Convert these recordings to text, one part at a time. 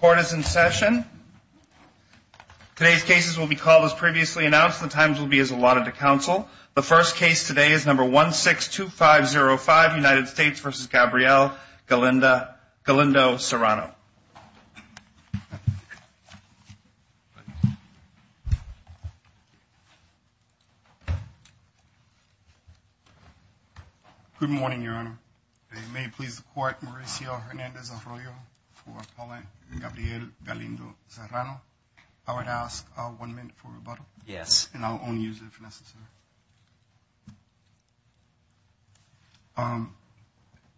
Court is in session. Today's cases will be called as previously announced. The times will be as allotted to counsel. The first case today is number 162505, United States v. Gabriel Galindo-Serrano. Good morning, Your Honor. It may please the Court, Mauricio Hernandez-Arroyo for appellant Gabriel Galindo-Serrano. I would ask one minute for rebuttal. Yes. And I'll only use it if necessary.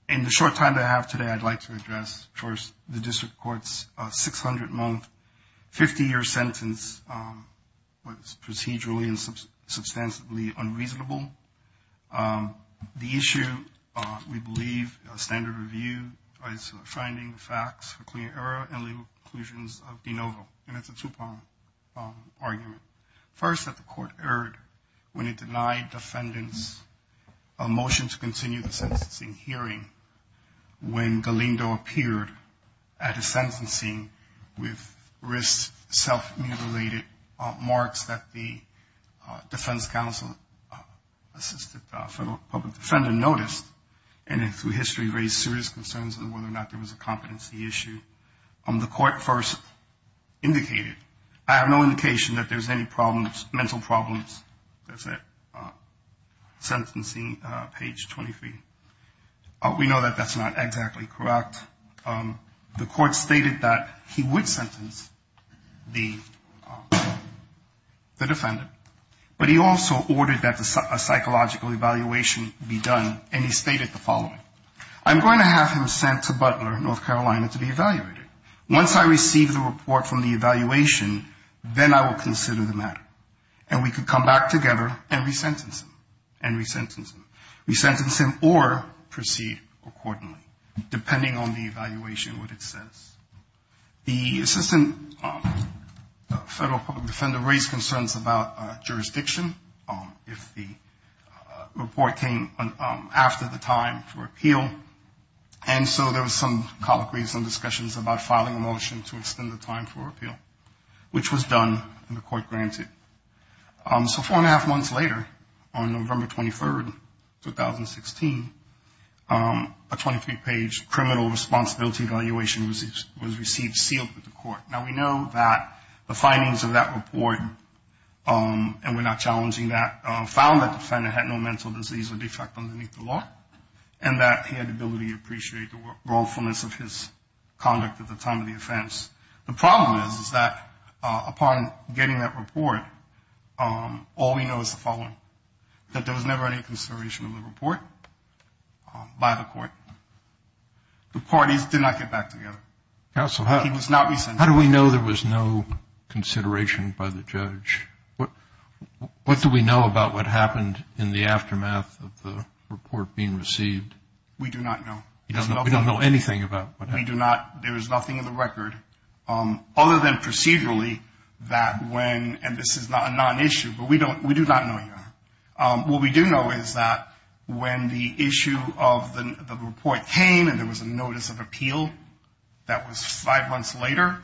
In the short time that I have today, I'd like to address first the District Court's 600-month, 50-year sentence, was procedurally and substantially unreasonable. The issue, we believe, standard review is finding facts for clear error and legal conclusions of de novo, and it's a two-pronged argument. First, that the Court erred when it denied defendants a motion to continue the sentencing hearing when Galindo appeared at a sentencing with wrist self-mutilated marks that the defense counsel assisted the public defendant noticed, and through history raised serious concerns on whether or not there was a competency issue. The Court first indicated, I have no indication that there's any problems, mental problems, that's it, sentencing page 23. We know that that's not exactly correct. The Court stated that he would sentence the defendant, but he also ordered that a psychological evaluation be done, and he stated the following, I'm going to have him sent to Butler, North Carolina, to be evaluated. Once I receive the report from the evaluation, then I will consider the matter, and we can come back together and resentence him, and resentence him, resentence him or proceed accordingly, depending on the evaluation, what it says. The assistant federal public defender raised concerns about jurisdiction, if the report came after the time for appeal, and so there was some colloquy, some discussions about filing a motion to extend the time for appeal, which was done and the Court granted. So four and a half months later, on November 23, 2016, a 23-page criminal responsibility evaluation was received, sealed with the Court. Now we know that the findings of that report, and we're not challenging that, found that the defendant had no mental disease or defect underneath the law, and that he had the ability to appreciate the rolefulness of his conduct at the time of the offense. The problem is, is that upon getting that report, all we know is the following, that there was never any consideration of the report by the Court. The parties did not get back together. He was not resentenced. How do we know there was no consideration by the judge? What do we know about what happened in the aftermath of the report being received? We do not know. We don't know anything about what happened. We do not. There is nothing in the record, other than procedurally, that when, and this is not a non-issue, but we do not know yet. What we do know is that when the issue of the report came and there was a notice of appeal that was five months later,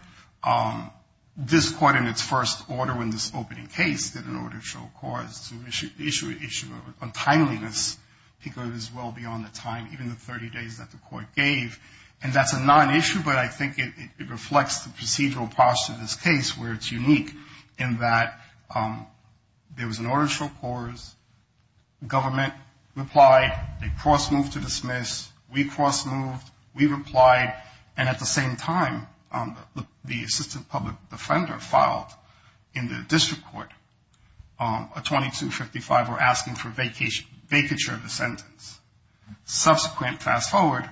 this Court, in its first order, in this opening case, did in order to show cause to issue an issue of untimeliness because it was well beyond the time, even the 30 days that the Court gave, and that's a non-issue, but I think it reflects the procedural posture of this case where it's unique in that there was an order to show cause. Government replied. They cross-moved to dismiss. We cross-moved. We replied. And at the same time, the assistant public defender filed in the district court a 2255 or asking for vacature of the sentence. Subsequent, fast-forward,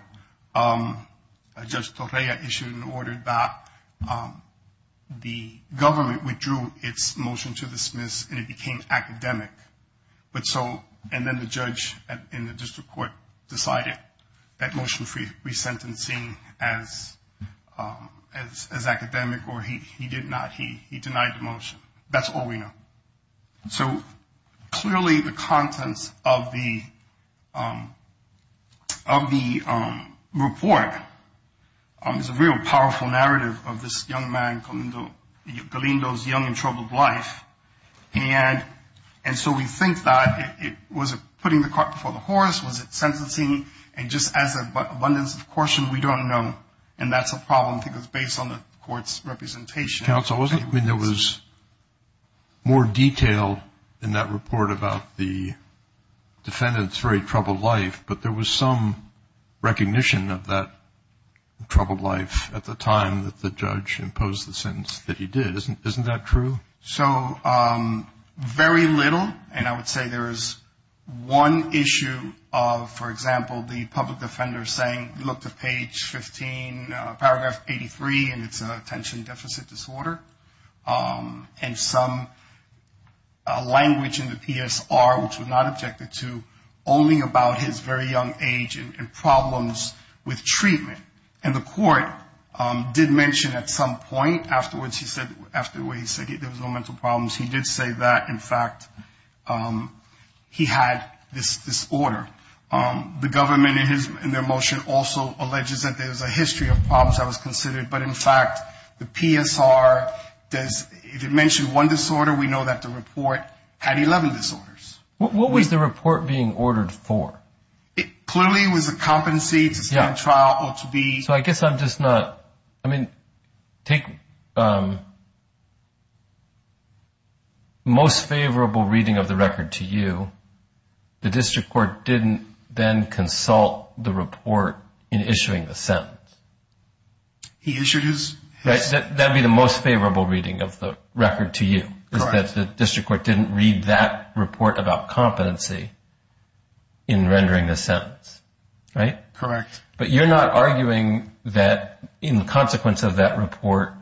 Judge Torreya issued an order that the government withdrew its motion to dismiss, and it became academic, and then the judge in the district court decided that motion for resentencing as academic, or he did not, he denied the motion. That's all we know. So clearly the contents of the report is a real powerful narrative of this young man, Galindo's young and troubled life, and so we think that was it putting the cart before the horse? Was it sentencing? And just as an abundance of caution, we don't know, and that's a problem. I think it was based on the Court's representation. There was more detail in that report about the defendant's very troubled life, but there was some recognition of that troubled life at the time that the judge imposed the sentence that he did. Isn't that true? So very little, and I would say there is one issue of, for example, the public defender saying, look to page 15, paragraph 83, and it's attention deficit disorder, and some language in the PSR, which was not objected to, only about his very young age and problems with treatment, and the court did mention at some point afterwards he said, after the way he said it, there was no mental problems, he did say that, in fact, he had this disorder. The government in their motion also alleges that there's a history of problems that was considered, but in fact the PSR does, if it mentioned one disorder, we know that the report had 11 disorders. What was the report being ordered for? It clearly was a competency to stand trial or to be. So I guess I'm just not, I mean, take most favorable reading of the record to you, the district court didn't then consult the report in issuing the sentence. He issued his. That would be the most favorable reading of the record to you, is that the district court didn't read that report about competency in rendering the sentence, right? Correct. But you're not arguing that in consequence of that report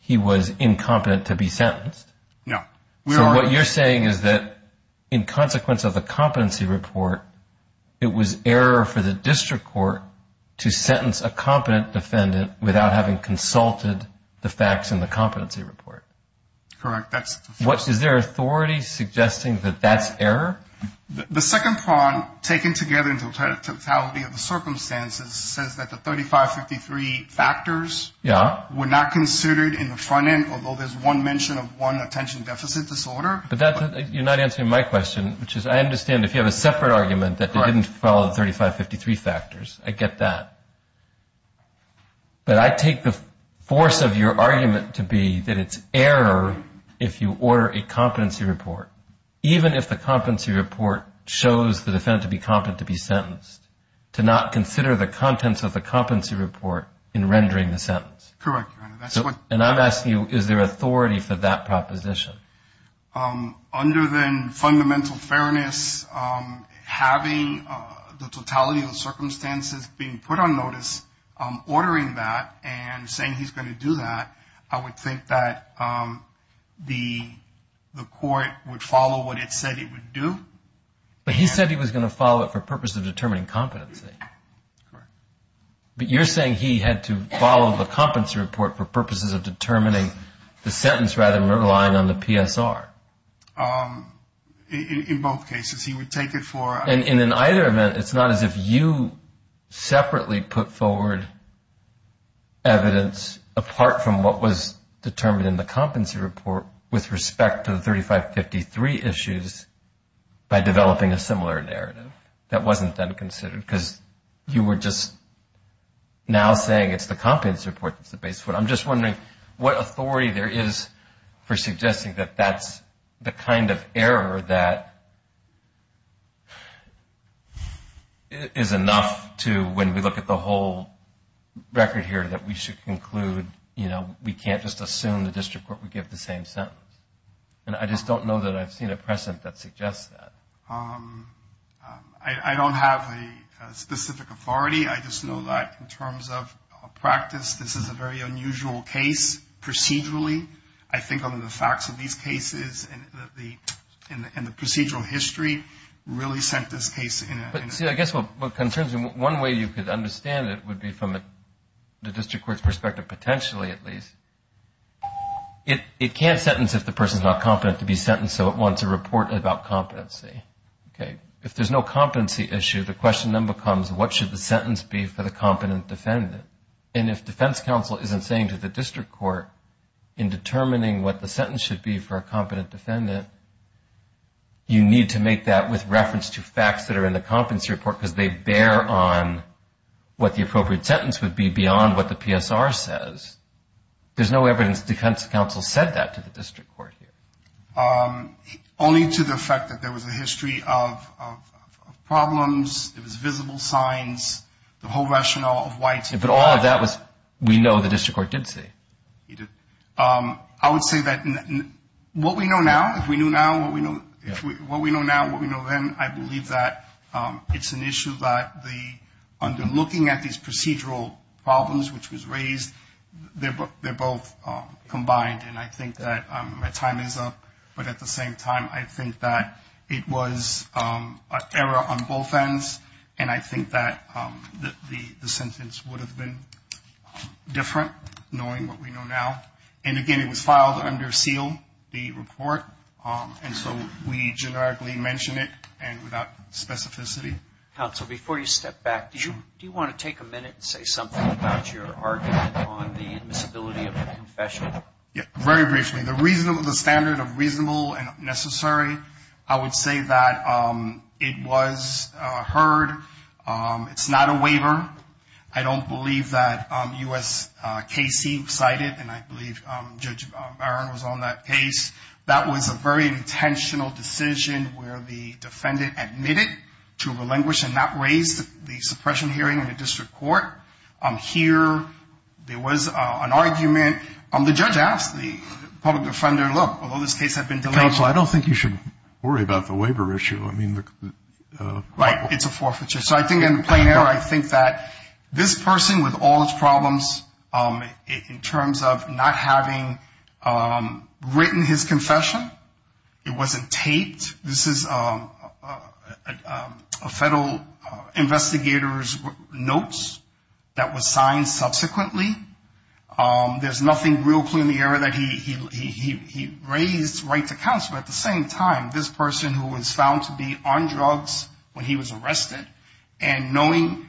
he was incompetent to be sentenced. No. So what you're saying is that in consequence of the competency report, it was error for the district court to sentence a competent defendant without having consulted the facts in the competency report. Correct. Is there authority suggesting that that's error? The second prong, taken together in totality of the circumstances, says that the 3553 factors were not considered in the front end, although there's one mention of one attention deficit disorder. But you're not answering my question, which is I understand if you have a separate argument that they didn't follow the 3553 factors. I get that. But I take the force of your argument to be that it's error if you order a competency report. Even if the competency report shows the defendant to be competent to be sentenced, to not consider the contents of the competency report in rendering the sentence. Correct, Your Honor. And I'm asking you, is there authority for that proposition? Under the fundamental fairness, having the totality of the circumstances being put on notice, ordering that and saying he's going to do that, I would think that the court would follow what it said it would do. But he said he was going to follow it for purposes of determining competency. Correct. But you're saying he had to follow the competency report for purposes of determining the sentence rather than relying on the PSR. In both cases, he would take it for... In either event, it's not as if you separately put forward evidence apart from what was determined in the competency report with respect to the 3553 issues by developing a similar narrative that wasn't then considered. Because you were just now saying it's the competency report that's the base. But I'm just wondering what authority there is for suggesting that that's the kind of error that is enough to, when we look at the whole record here, that we should conclude, you know, we can't just assume the district court would give the same sentence. And I just don't know that I've seen a precedent that suggests that. I don't have a specific authority. I just know that in terms of practice, this is a very unusual case procedurally. I think on the facts of these cases and the procedural history really sent this case in a... See, I guess what concerns me, one way you could understand it would be from the district court's perspective, potentially at least, it can't sentence if the person's not competent to be sentenced, so it wants a report about competency. Okay. If there's no competency issue, the question then becomes what should the sentence be for the competent defendant? And if defense counsel isn't saying to the district court, in determining what the sentence should be for a competent defendant, you need to make that with reference to facts that are in the competency report because they bear on what the appropriate sentence would be beyond what the PSR says. There's no evidence defense counsel said that to the district court here. Only to the effect that there was a history of problems, it was visible signs, the whole rationale of why... But all of that we know the district court did say. It did. I would say that what we know now, if we knew now, what we know then, I believe that it's an issue that under looking at these procedural problems which was raised, they're both combined, and I think that my time is up, but at the same time, I think that it was an error on both ends, and I think that the sentence would have been different knowing what we know now. And again, it was filed under seal, the report, and so we generically mention it and without specificity. Counsel, before you step back, do you want to take a minute and say something about your argument on the admissibility of the confession? Yeah, very briefly. The standard of reasonable and necessary, I would say that it was heard. It's not a waiver. I don't believe that U.S. Casey cited, and I believe Judge Byron was on that case. That was a very intentional decision where the defendant admitted to relinquish and not raise the suppression hearing in the district court. Here, there was an argument. The judge asked the public defender, look, although this case had been delayed. Counsel, I don't think you should worry about the waiver issue. Right, it's a forfeiture. So I think in plain error, I think that this person with all his problems in terms of not having written his confession, it wasn't taped. This is a federal investigator's notes that was signed subsequently. There's nothing real clear in the error that he raised right to counsel. At the same time, this person who was found to be on drugs when he was arrested, and knowing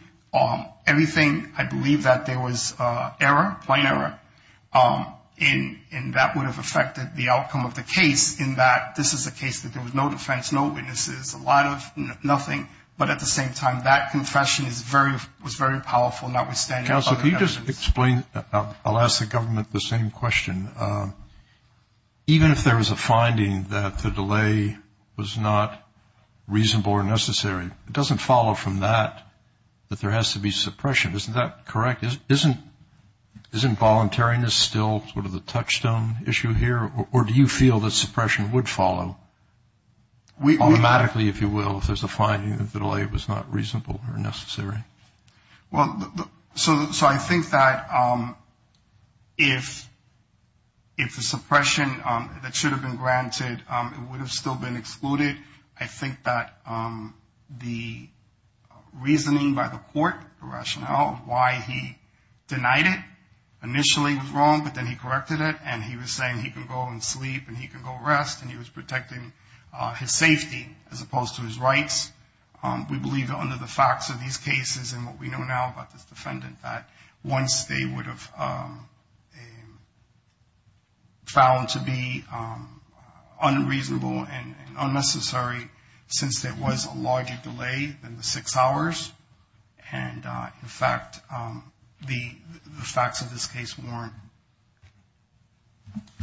everything, I believe that there was error, plain error, and that would have affected the outcome of the case in that this is a case that there was no defense, no witnesses, a lot of nothing, but at the same time, that confession was very powerful notwithstanding. Counsel, can you just explain? I'll ask the government the same question. Even if there was a finding that the delay was not reasonable or necessary, it doesn't follow from that that there has to be suppression. Isn't that correct? Isn't voluntariness still sort of the touchstone issue here, or do you feel that suppression would follow automatically, if you will, if there's a finding that the delay was not reasonable or necessary? Well, so I think that if the suppression that should have been granted, it would have still been excluded. I think that the reasoning by the court, the rationale why he denied it initially was wrong, but then he corrected it, and he was saying he can go and sleep and he can go rest, and he was protecting his safety as opposed to his rights. We believe that under the facts of these cases and what we know now about this defendant, that once they would have found to be unreasonable and unnecessary, since there was a larger delay than the six hours, and, in fact, the facts of this case warn.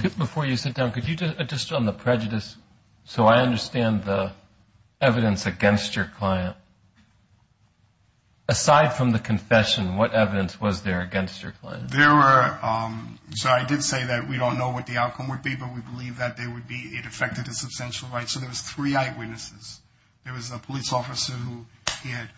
Before you sit down, could you just on the prejudice, so I understand the evidence against your client, aside from the confession, what evidence was there against your client? There were, so I did say that we don't know what the outcome would be, but we believe that there would be, it affected his substantial rights, so there was three eyewitnesses. There was a police officer who he had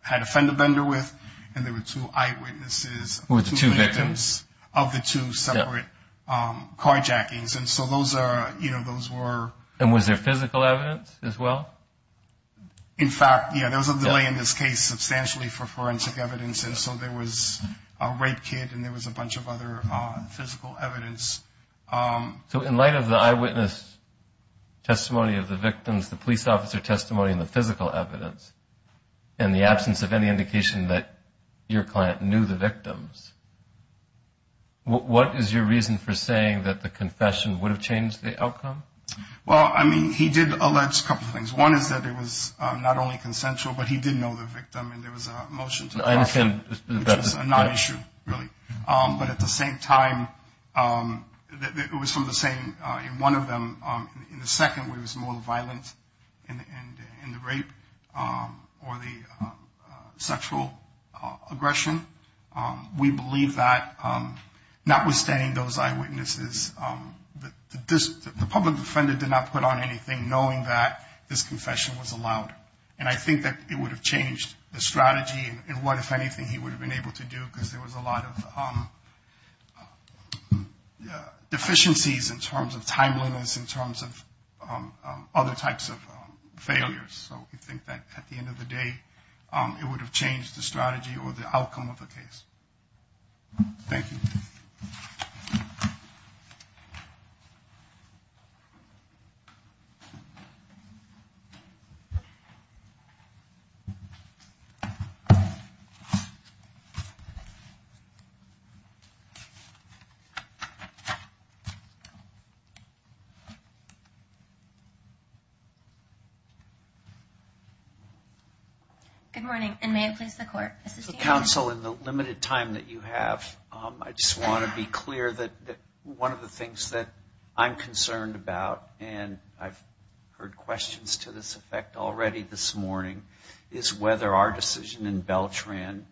had a fender bender with, and there were two eyewitnesses. Who were the two victims? Of the two separate carjackings, and so those are, you know, those were. And was there physical evidence as well? In fact, yeah, there was a delay in this case substantially for forensic evidence, and so there was a rape kit and there was a bunch of other physical evidence. So in light of the eyewitness testimony of the victims, the police officer testimony, and the physical evidence, and the absence of any indication that your client knew the victims, what is your reason for saying that the confession would have changed the outcome? Well, I mean, he did allege a couple of things. One is that it was not only consensual, but he did know the victim, and there was a motion to prosecute, which was a non-issue, really. But at the same time, it was some of the same in one of them. In the second, where it was more violent in the rape or the sexual aggression, we believe that notwithstanding those eyewitnesses, the public defender did not put on anything knowing that this confession was allowed. And I think that it would have changed the strategy and what, if anything, he would have been able to do because there was a lot of deficiencies in terms of timeliness, in terms of other types of failures. So we think that at the end of the day, it would have changed the strategy or the outcome of the case. Thank you. Good morning, and may it please the Court. Counsel, in the limited time that you have, I just want to be clear that one of the things that I'm concerned about, and I've heard questions to this effect already this morning, is whether our decision in Beltran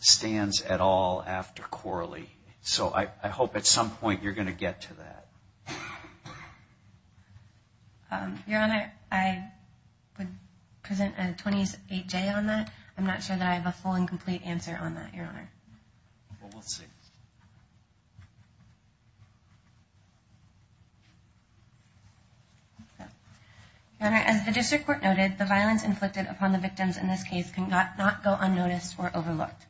stands at all after Corley. So I hope at some point you're going to get to that. Your Honor, I would present a 20-8J on that. I'm not sure that I have a full and complete answer on that, Your Honor. Your Honor, as the District Court noted, the violence inflicted upon the victims in this case cannot go unnoticed or overlooked.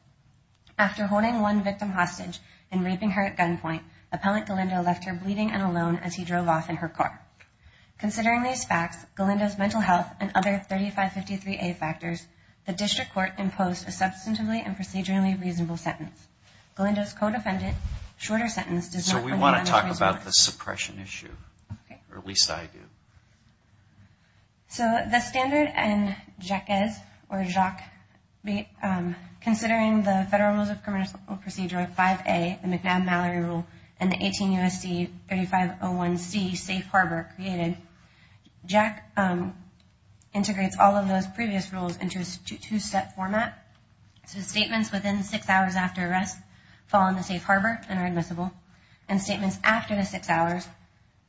After holding one victim hostage and raping her at gunpoint, Appellant Galindo left her bleeding and alone as he drove off in her car. Considering these facts, Galindo's mental health, and other 3553A factors, the District Court imposed a substantively and procedurally reasonable sentence. Galindo's co-defendant's shorter sentence does not... So we want to talk about the suppression issue, or at least I do. So the standard in Jaquez, or Jacques, considering the Federal Rules of Criminal Procedure 5A, the McNabb-Mallory Rule, and the 18 U.S.C. 3501C, Safe Harbor, created, Jacques integrates all of those previous rules into a two-step format. So the statements within six hours after arrest fall in the safe harbor and are admissible, and statements after the six hours,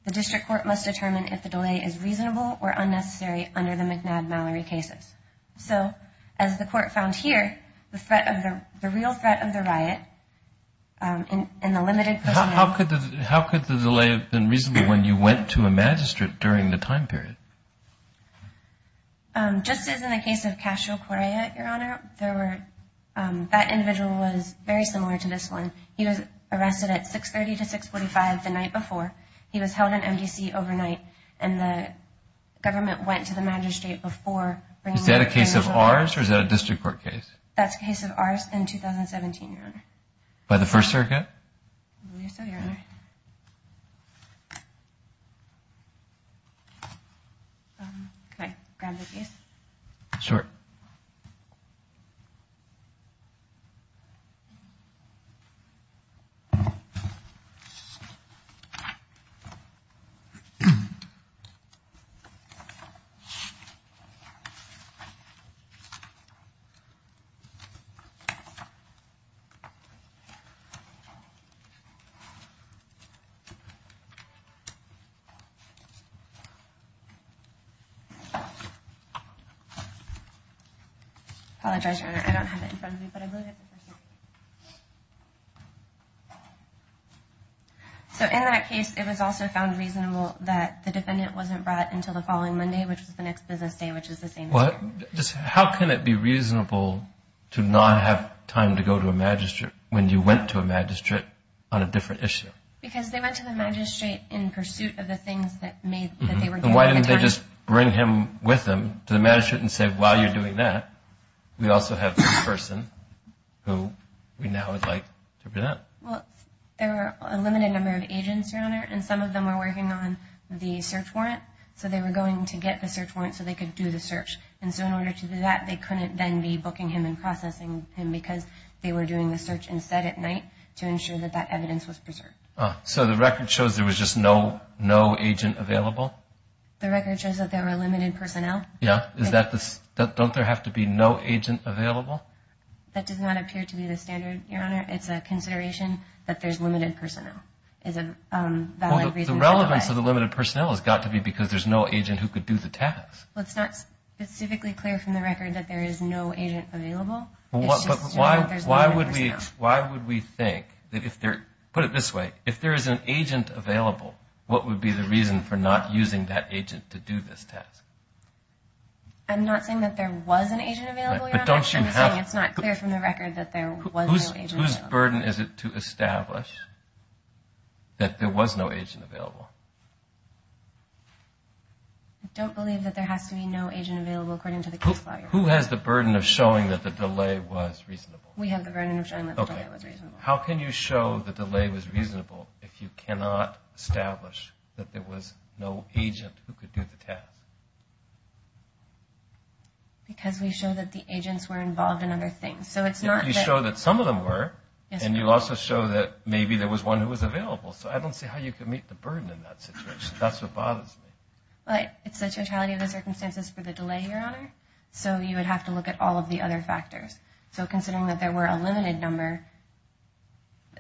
the District Court must determine if the delay is reasonable or unnecessary under the McNabb-Mallory cases. So as the Court found here, the real threat of the riot in the limited... How could the delay have been reasonable when you went to a magistrate during the time period? Just as in the case of Casual Correa, Your Honor, that individual was very similar to this one. He was arrested at 630 to 645 the night before. He was held in MDC overnight, and the government went to the magistrate before... Is that a case of ours, or is that a District Court case? That's a case of ours in 2017, Your Honor. By the First Circuit? Can I grab the case? Sure. Apologize, Your Honor. I don't have it in front of me, but I believe it's in front of me. So in that case, it was also found reasonable that the defendant wasn't brought until the following Monday, which was the next business day, which is the same day. How can it be reasonable to not have time to go to a magistrate when you went to a magistrate on a different issue? Because they went to the magistrate in pursuit of the things that they were given. Why didn't they just bring him with them to the magistrate and say, while you're doing that, we also have this person who we now would like to prevent? Well, there were a limited number of agents, Your Honor, and some of them were working on the search warrant, so they were going to get the search warrant so they could do the search. And so in order to do that, they couldn't then be booking him and processing him because they were doing the search instead at night to ensure that that evidence was preserved. So the record shows there was just no agent available? The record shows that there were limited personnel. Don't there have to be no agent available? That does not appear to be the standard, Your Honor. It's a consideration that there's limited personnel. The relevance of the limited personnel has got to be because there's no agent who could do the task. Well, it's not specifically clear from the record that there is no agent available. Why would we think that if there, put it this way, if there is an agent available, what would be the reason for not using that agent to do this task? I'm not saying that there was an agent available, Your Honor. I'm just saying it's not clear from the record that there was no agent available. Whose burden is it to establish that there was no agent available? I don't believe that there has to be no agent available according to the case file, Your Honor. Who has the burden of showing that the delay was reasonable? We have the burden of showing that the delay was reasonable. How can you show the delay was reasonable if you cannot establish that there was no agent who could do the task? Because we show that the agents were involved in other things. You show that some of them were, and you also show that maybe there was one who was available. So I don't see how you can meet the burden in that situation. That's what bothers me. It's the totality of the circumstances for the delay, Your Honor. So you would have to look at all of the other factors. So considering that there were a limited number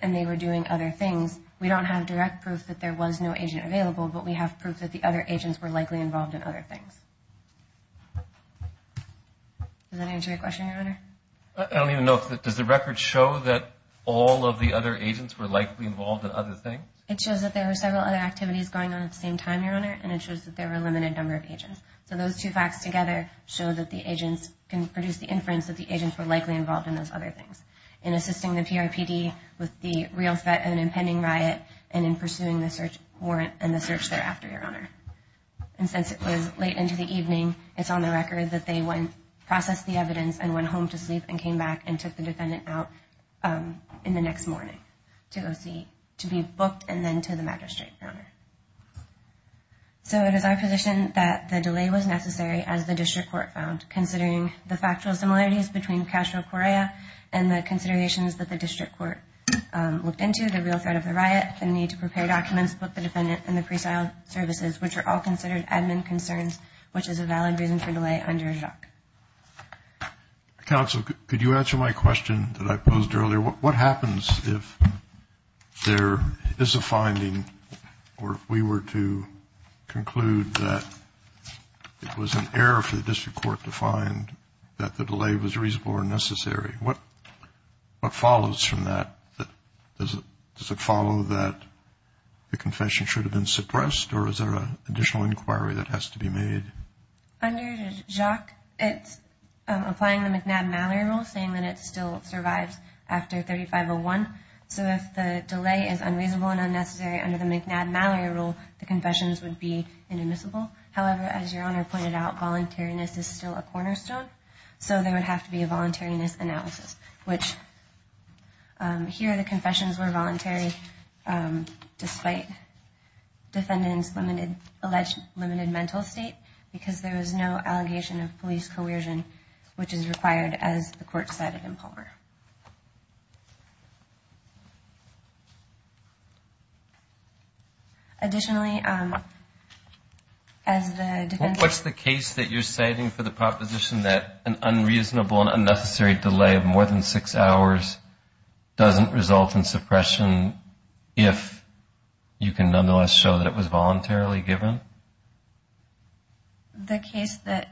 and they were doing other things, we don't have direct proof that there was no agent available, but we have proof that the other agents were likely involved in other things. Does that answer your question, Your Honor? I don't even know. Does the record show that all of the other agents were likely involved in other things? It shows that there were several other activities going on at the same time, Your Honor, and it shows that there were a limited number of agents. So those two facts together show that the agents can produce the inference that the agents were likely involved in those other things, in assisting the PRPD with the real threat of an impending riot, and in pursuing the search warrant and the search thereafter, Your Honor. And since it was late into the evening, it's on the record that they went, processed the evidence, and went home to sleep and came back and took the defendant out in the next morning to go see, to be booked and then to the magistrate, Your Honor. So it is our position that the delay was necessary, as the district court found, considering the factual similarities between Castro-Correa and the considerations that the district court looked into, the real threat of the riot, the need to prepare documents, book the defendant, and the presale services, which are all considered admin concerns, which is a valid reason for delay under JOC. Counsel, could you answer my question that I posed earlier? What happens if there is a finding or if we were to conclude that it was an error for the district court to find that the delay was reasonable or necessary? What follows from that? Does it follow that the confession should have been suppressed, or is there an additional inquiry that has to be made? Under JOC, it's applying the McNabb-Mallory rule, saying that it still survives after 3501. So if the delay is unreasonable and unnecessary under the McNabb-Mallory rule, the confessions would be inadmissible. However, as Your Honor pointed out, voluntariness is still a cornerstone, so there would have to be a voluntariness analysis. Here, the confessions were voluntary, despite defendant's alleged limited mental state, because there was no allegation of police coercion, which is required, as the court cited in Palmer. Additionally, as the defendant... Does it follow that an unreasonable and unnecessary delay of more than six hours doesn't result in suppression if you can nonetheless show that it was voluntarily given? The case that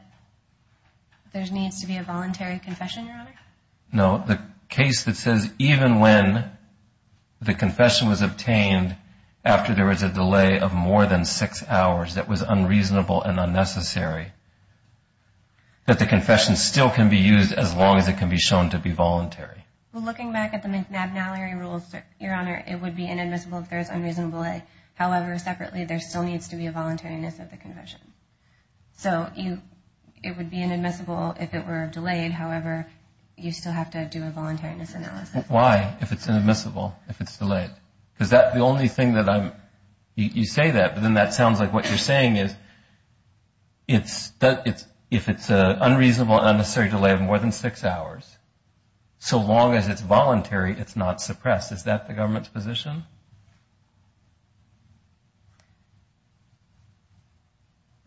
there needs to be a voluntary confession, Your Honor? No, the case that says even when the confession was obtained after there was a delay of more than six hours that was unreasonable and unnecessary, the confession still can be used as long as it can be shown to be voluntary. Well, looking back at the McNabb-Mallory rules, Your Honor, it would be inadmissible if there was unreasonable delay. However, separately, there still needs to be a voluntariness of the confession. So it would be inadmissible if it were delayed. However, you still have to do a voluntariness analysis. Why, if it's inadmissible, if it's delayed? Because the only thing that I'm... You say that, but then that sounds like what you're saying is, if it's an unreasonable and unnecessary delay of more than six hours, so long as it's voluntary, it's not suppressed. Is that the government's position?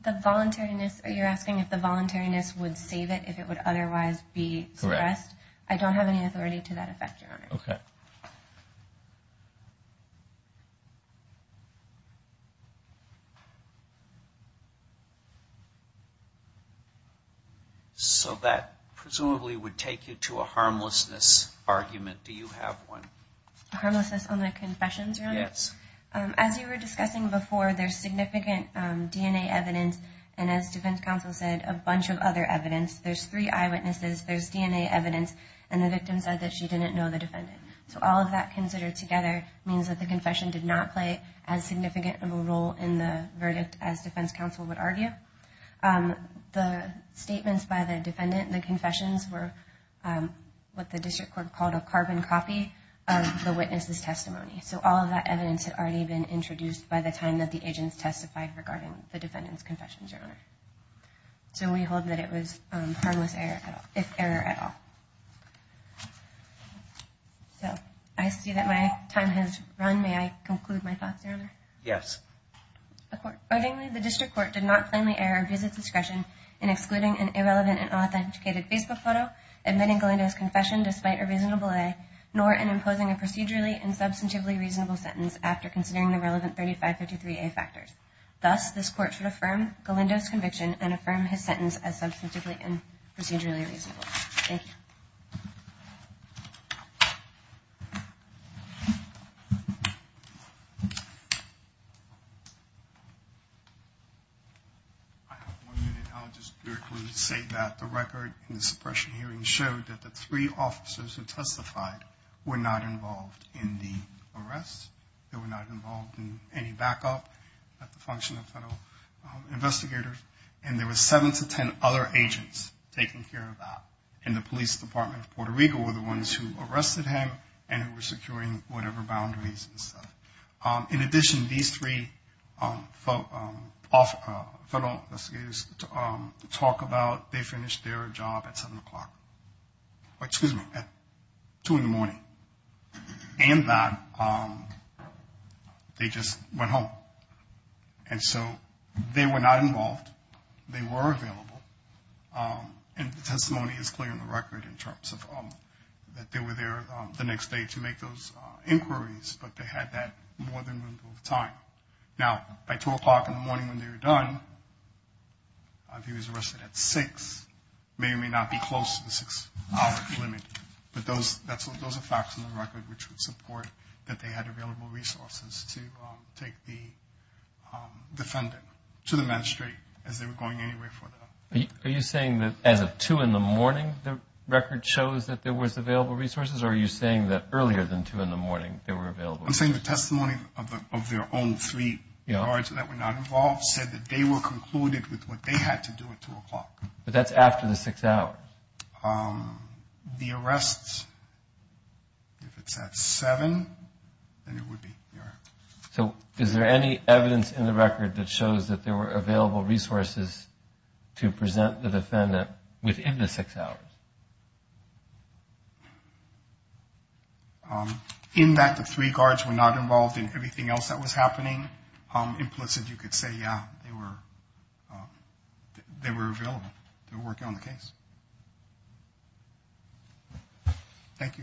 The voluntariness... You're asking if the voluntariness would save it if it would otherwise be suppressed? I don't have any authority to that effect, Your Honor. So that presumably would take you to a harmlessness argument. Do you have one? Harmlessness on the confessions, Your Honor? Yes. As you were discussing before, there's significant DNA evidence, and as defense counsel said, a bunch of other evidence. There's three eyewitnesses, there's DNA evidence, and the victim said that she didn't know the defendant. So all of that considered together means that the confession did not play as significant of a role in the verdict as defense counsel would argue. The statements by the defendant, the confessions were what the district court called a carbon copy of the witness's testimony. So all of that evidence had already been introduced by the time that the agents testified regarding the defendant's confessions, Your Honor. So we hold that it was harmless error at all. So I see that my time has run. May I conclude my thoughts, Your Honor? Yes. I have one minute, and I'll just very quickly say that the record in the suppression hearing showed that the three officers who testified were not involved in the arrest. They were not involved in any backup at the function of federal investigators, and there were seven to ten other agents taking care of that. And the police department of Puerto Rico were the ones who arrested him and who were securing whatever boundaries and stuff. In addition, these three federal investigators talk about they finished their job at 7 o'clock, or excuse me, at 2 in the morning. And that they just went home. And so they were not involved. They were available. And the testimony is clear in the record in terms of that they were there the next day to make those inquiries, but they had that more than room for time. Now, by 2 o'clock in the morning when they were done, he was arrested at 6. He may or may not be close to the six-hour limit, but those are facts in the record which would support that they had available resources to take the defendant to the magistrate as they were going anywhere for them. Are you saying that as of 2 in the morning the record shows that there was available resources, or are you saying that earlier than 2 in the morning they were available? I'm saying the testimony of their own three guards that were not involved said that they were concluded with what they had to do at 2 o'clock. But that's after the six hours. The arrests, if it's at 7, then it would be there. So is there any evidence in the record that shows that there were available resources to present the defendant within the six hours? In that the three guards were not involved in everything else that was happening, implicit you could say, yeah, they were available. They were working on the case. Thank you.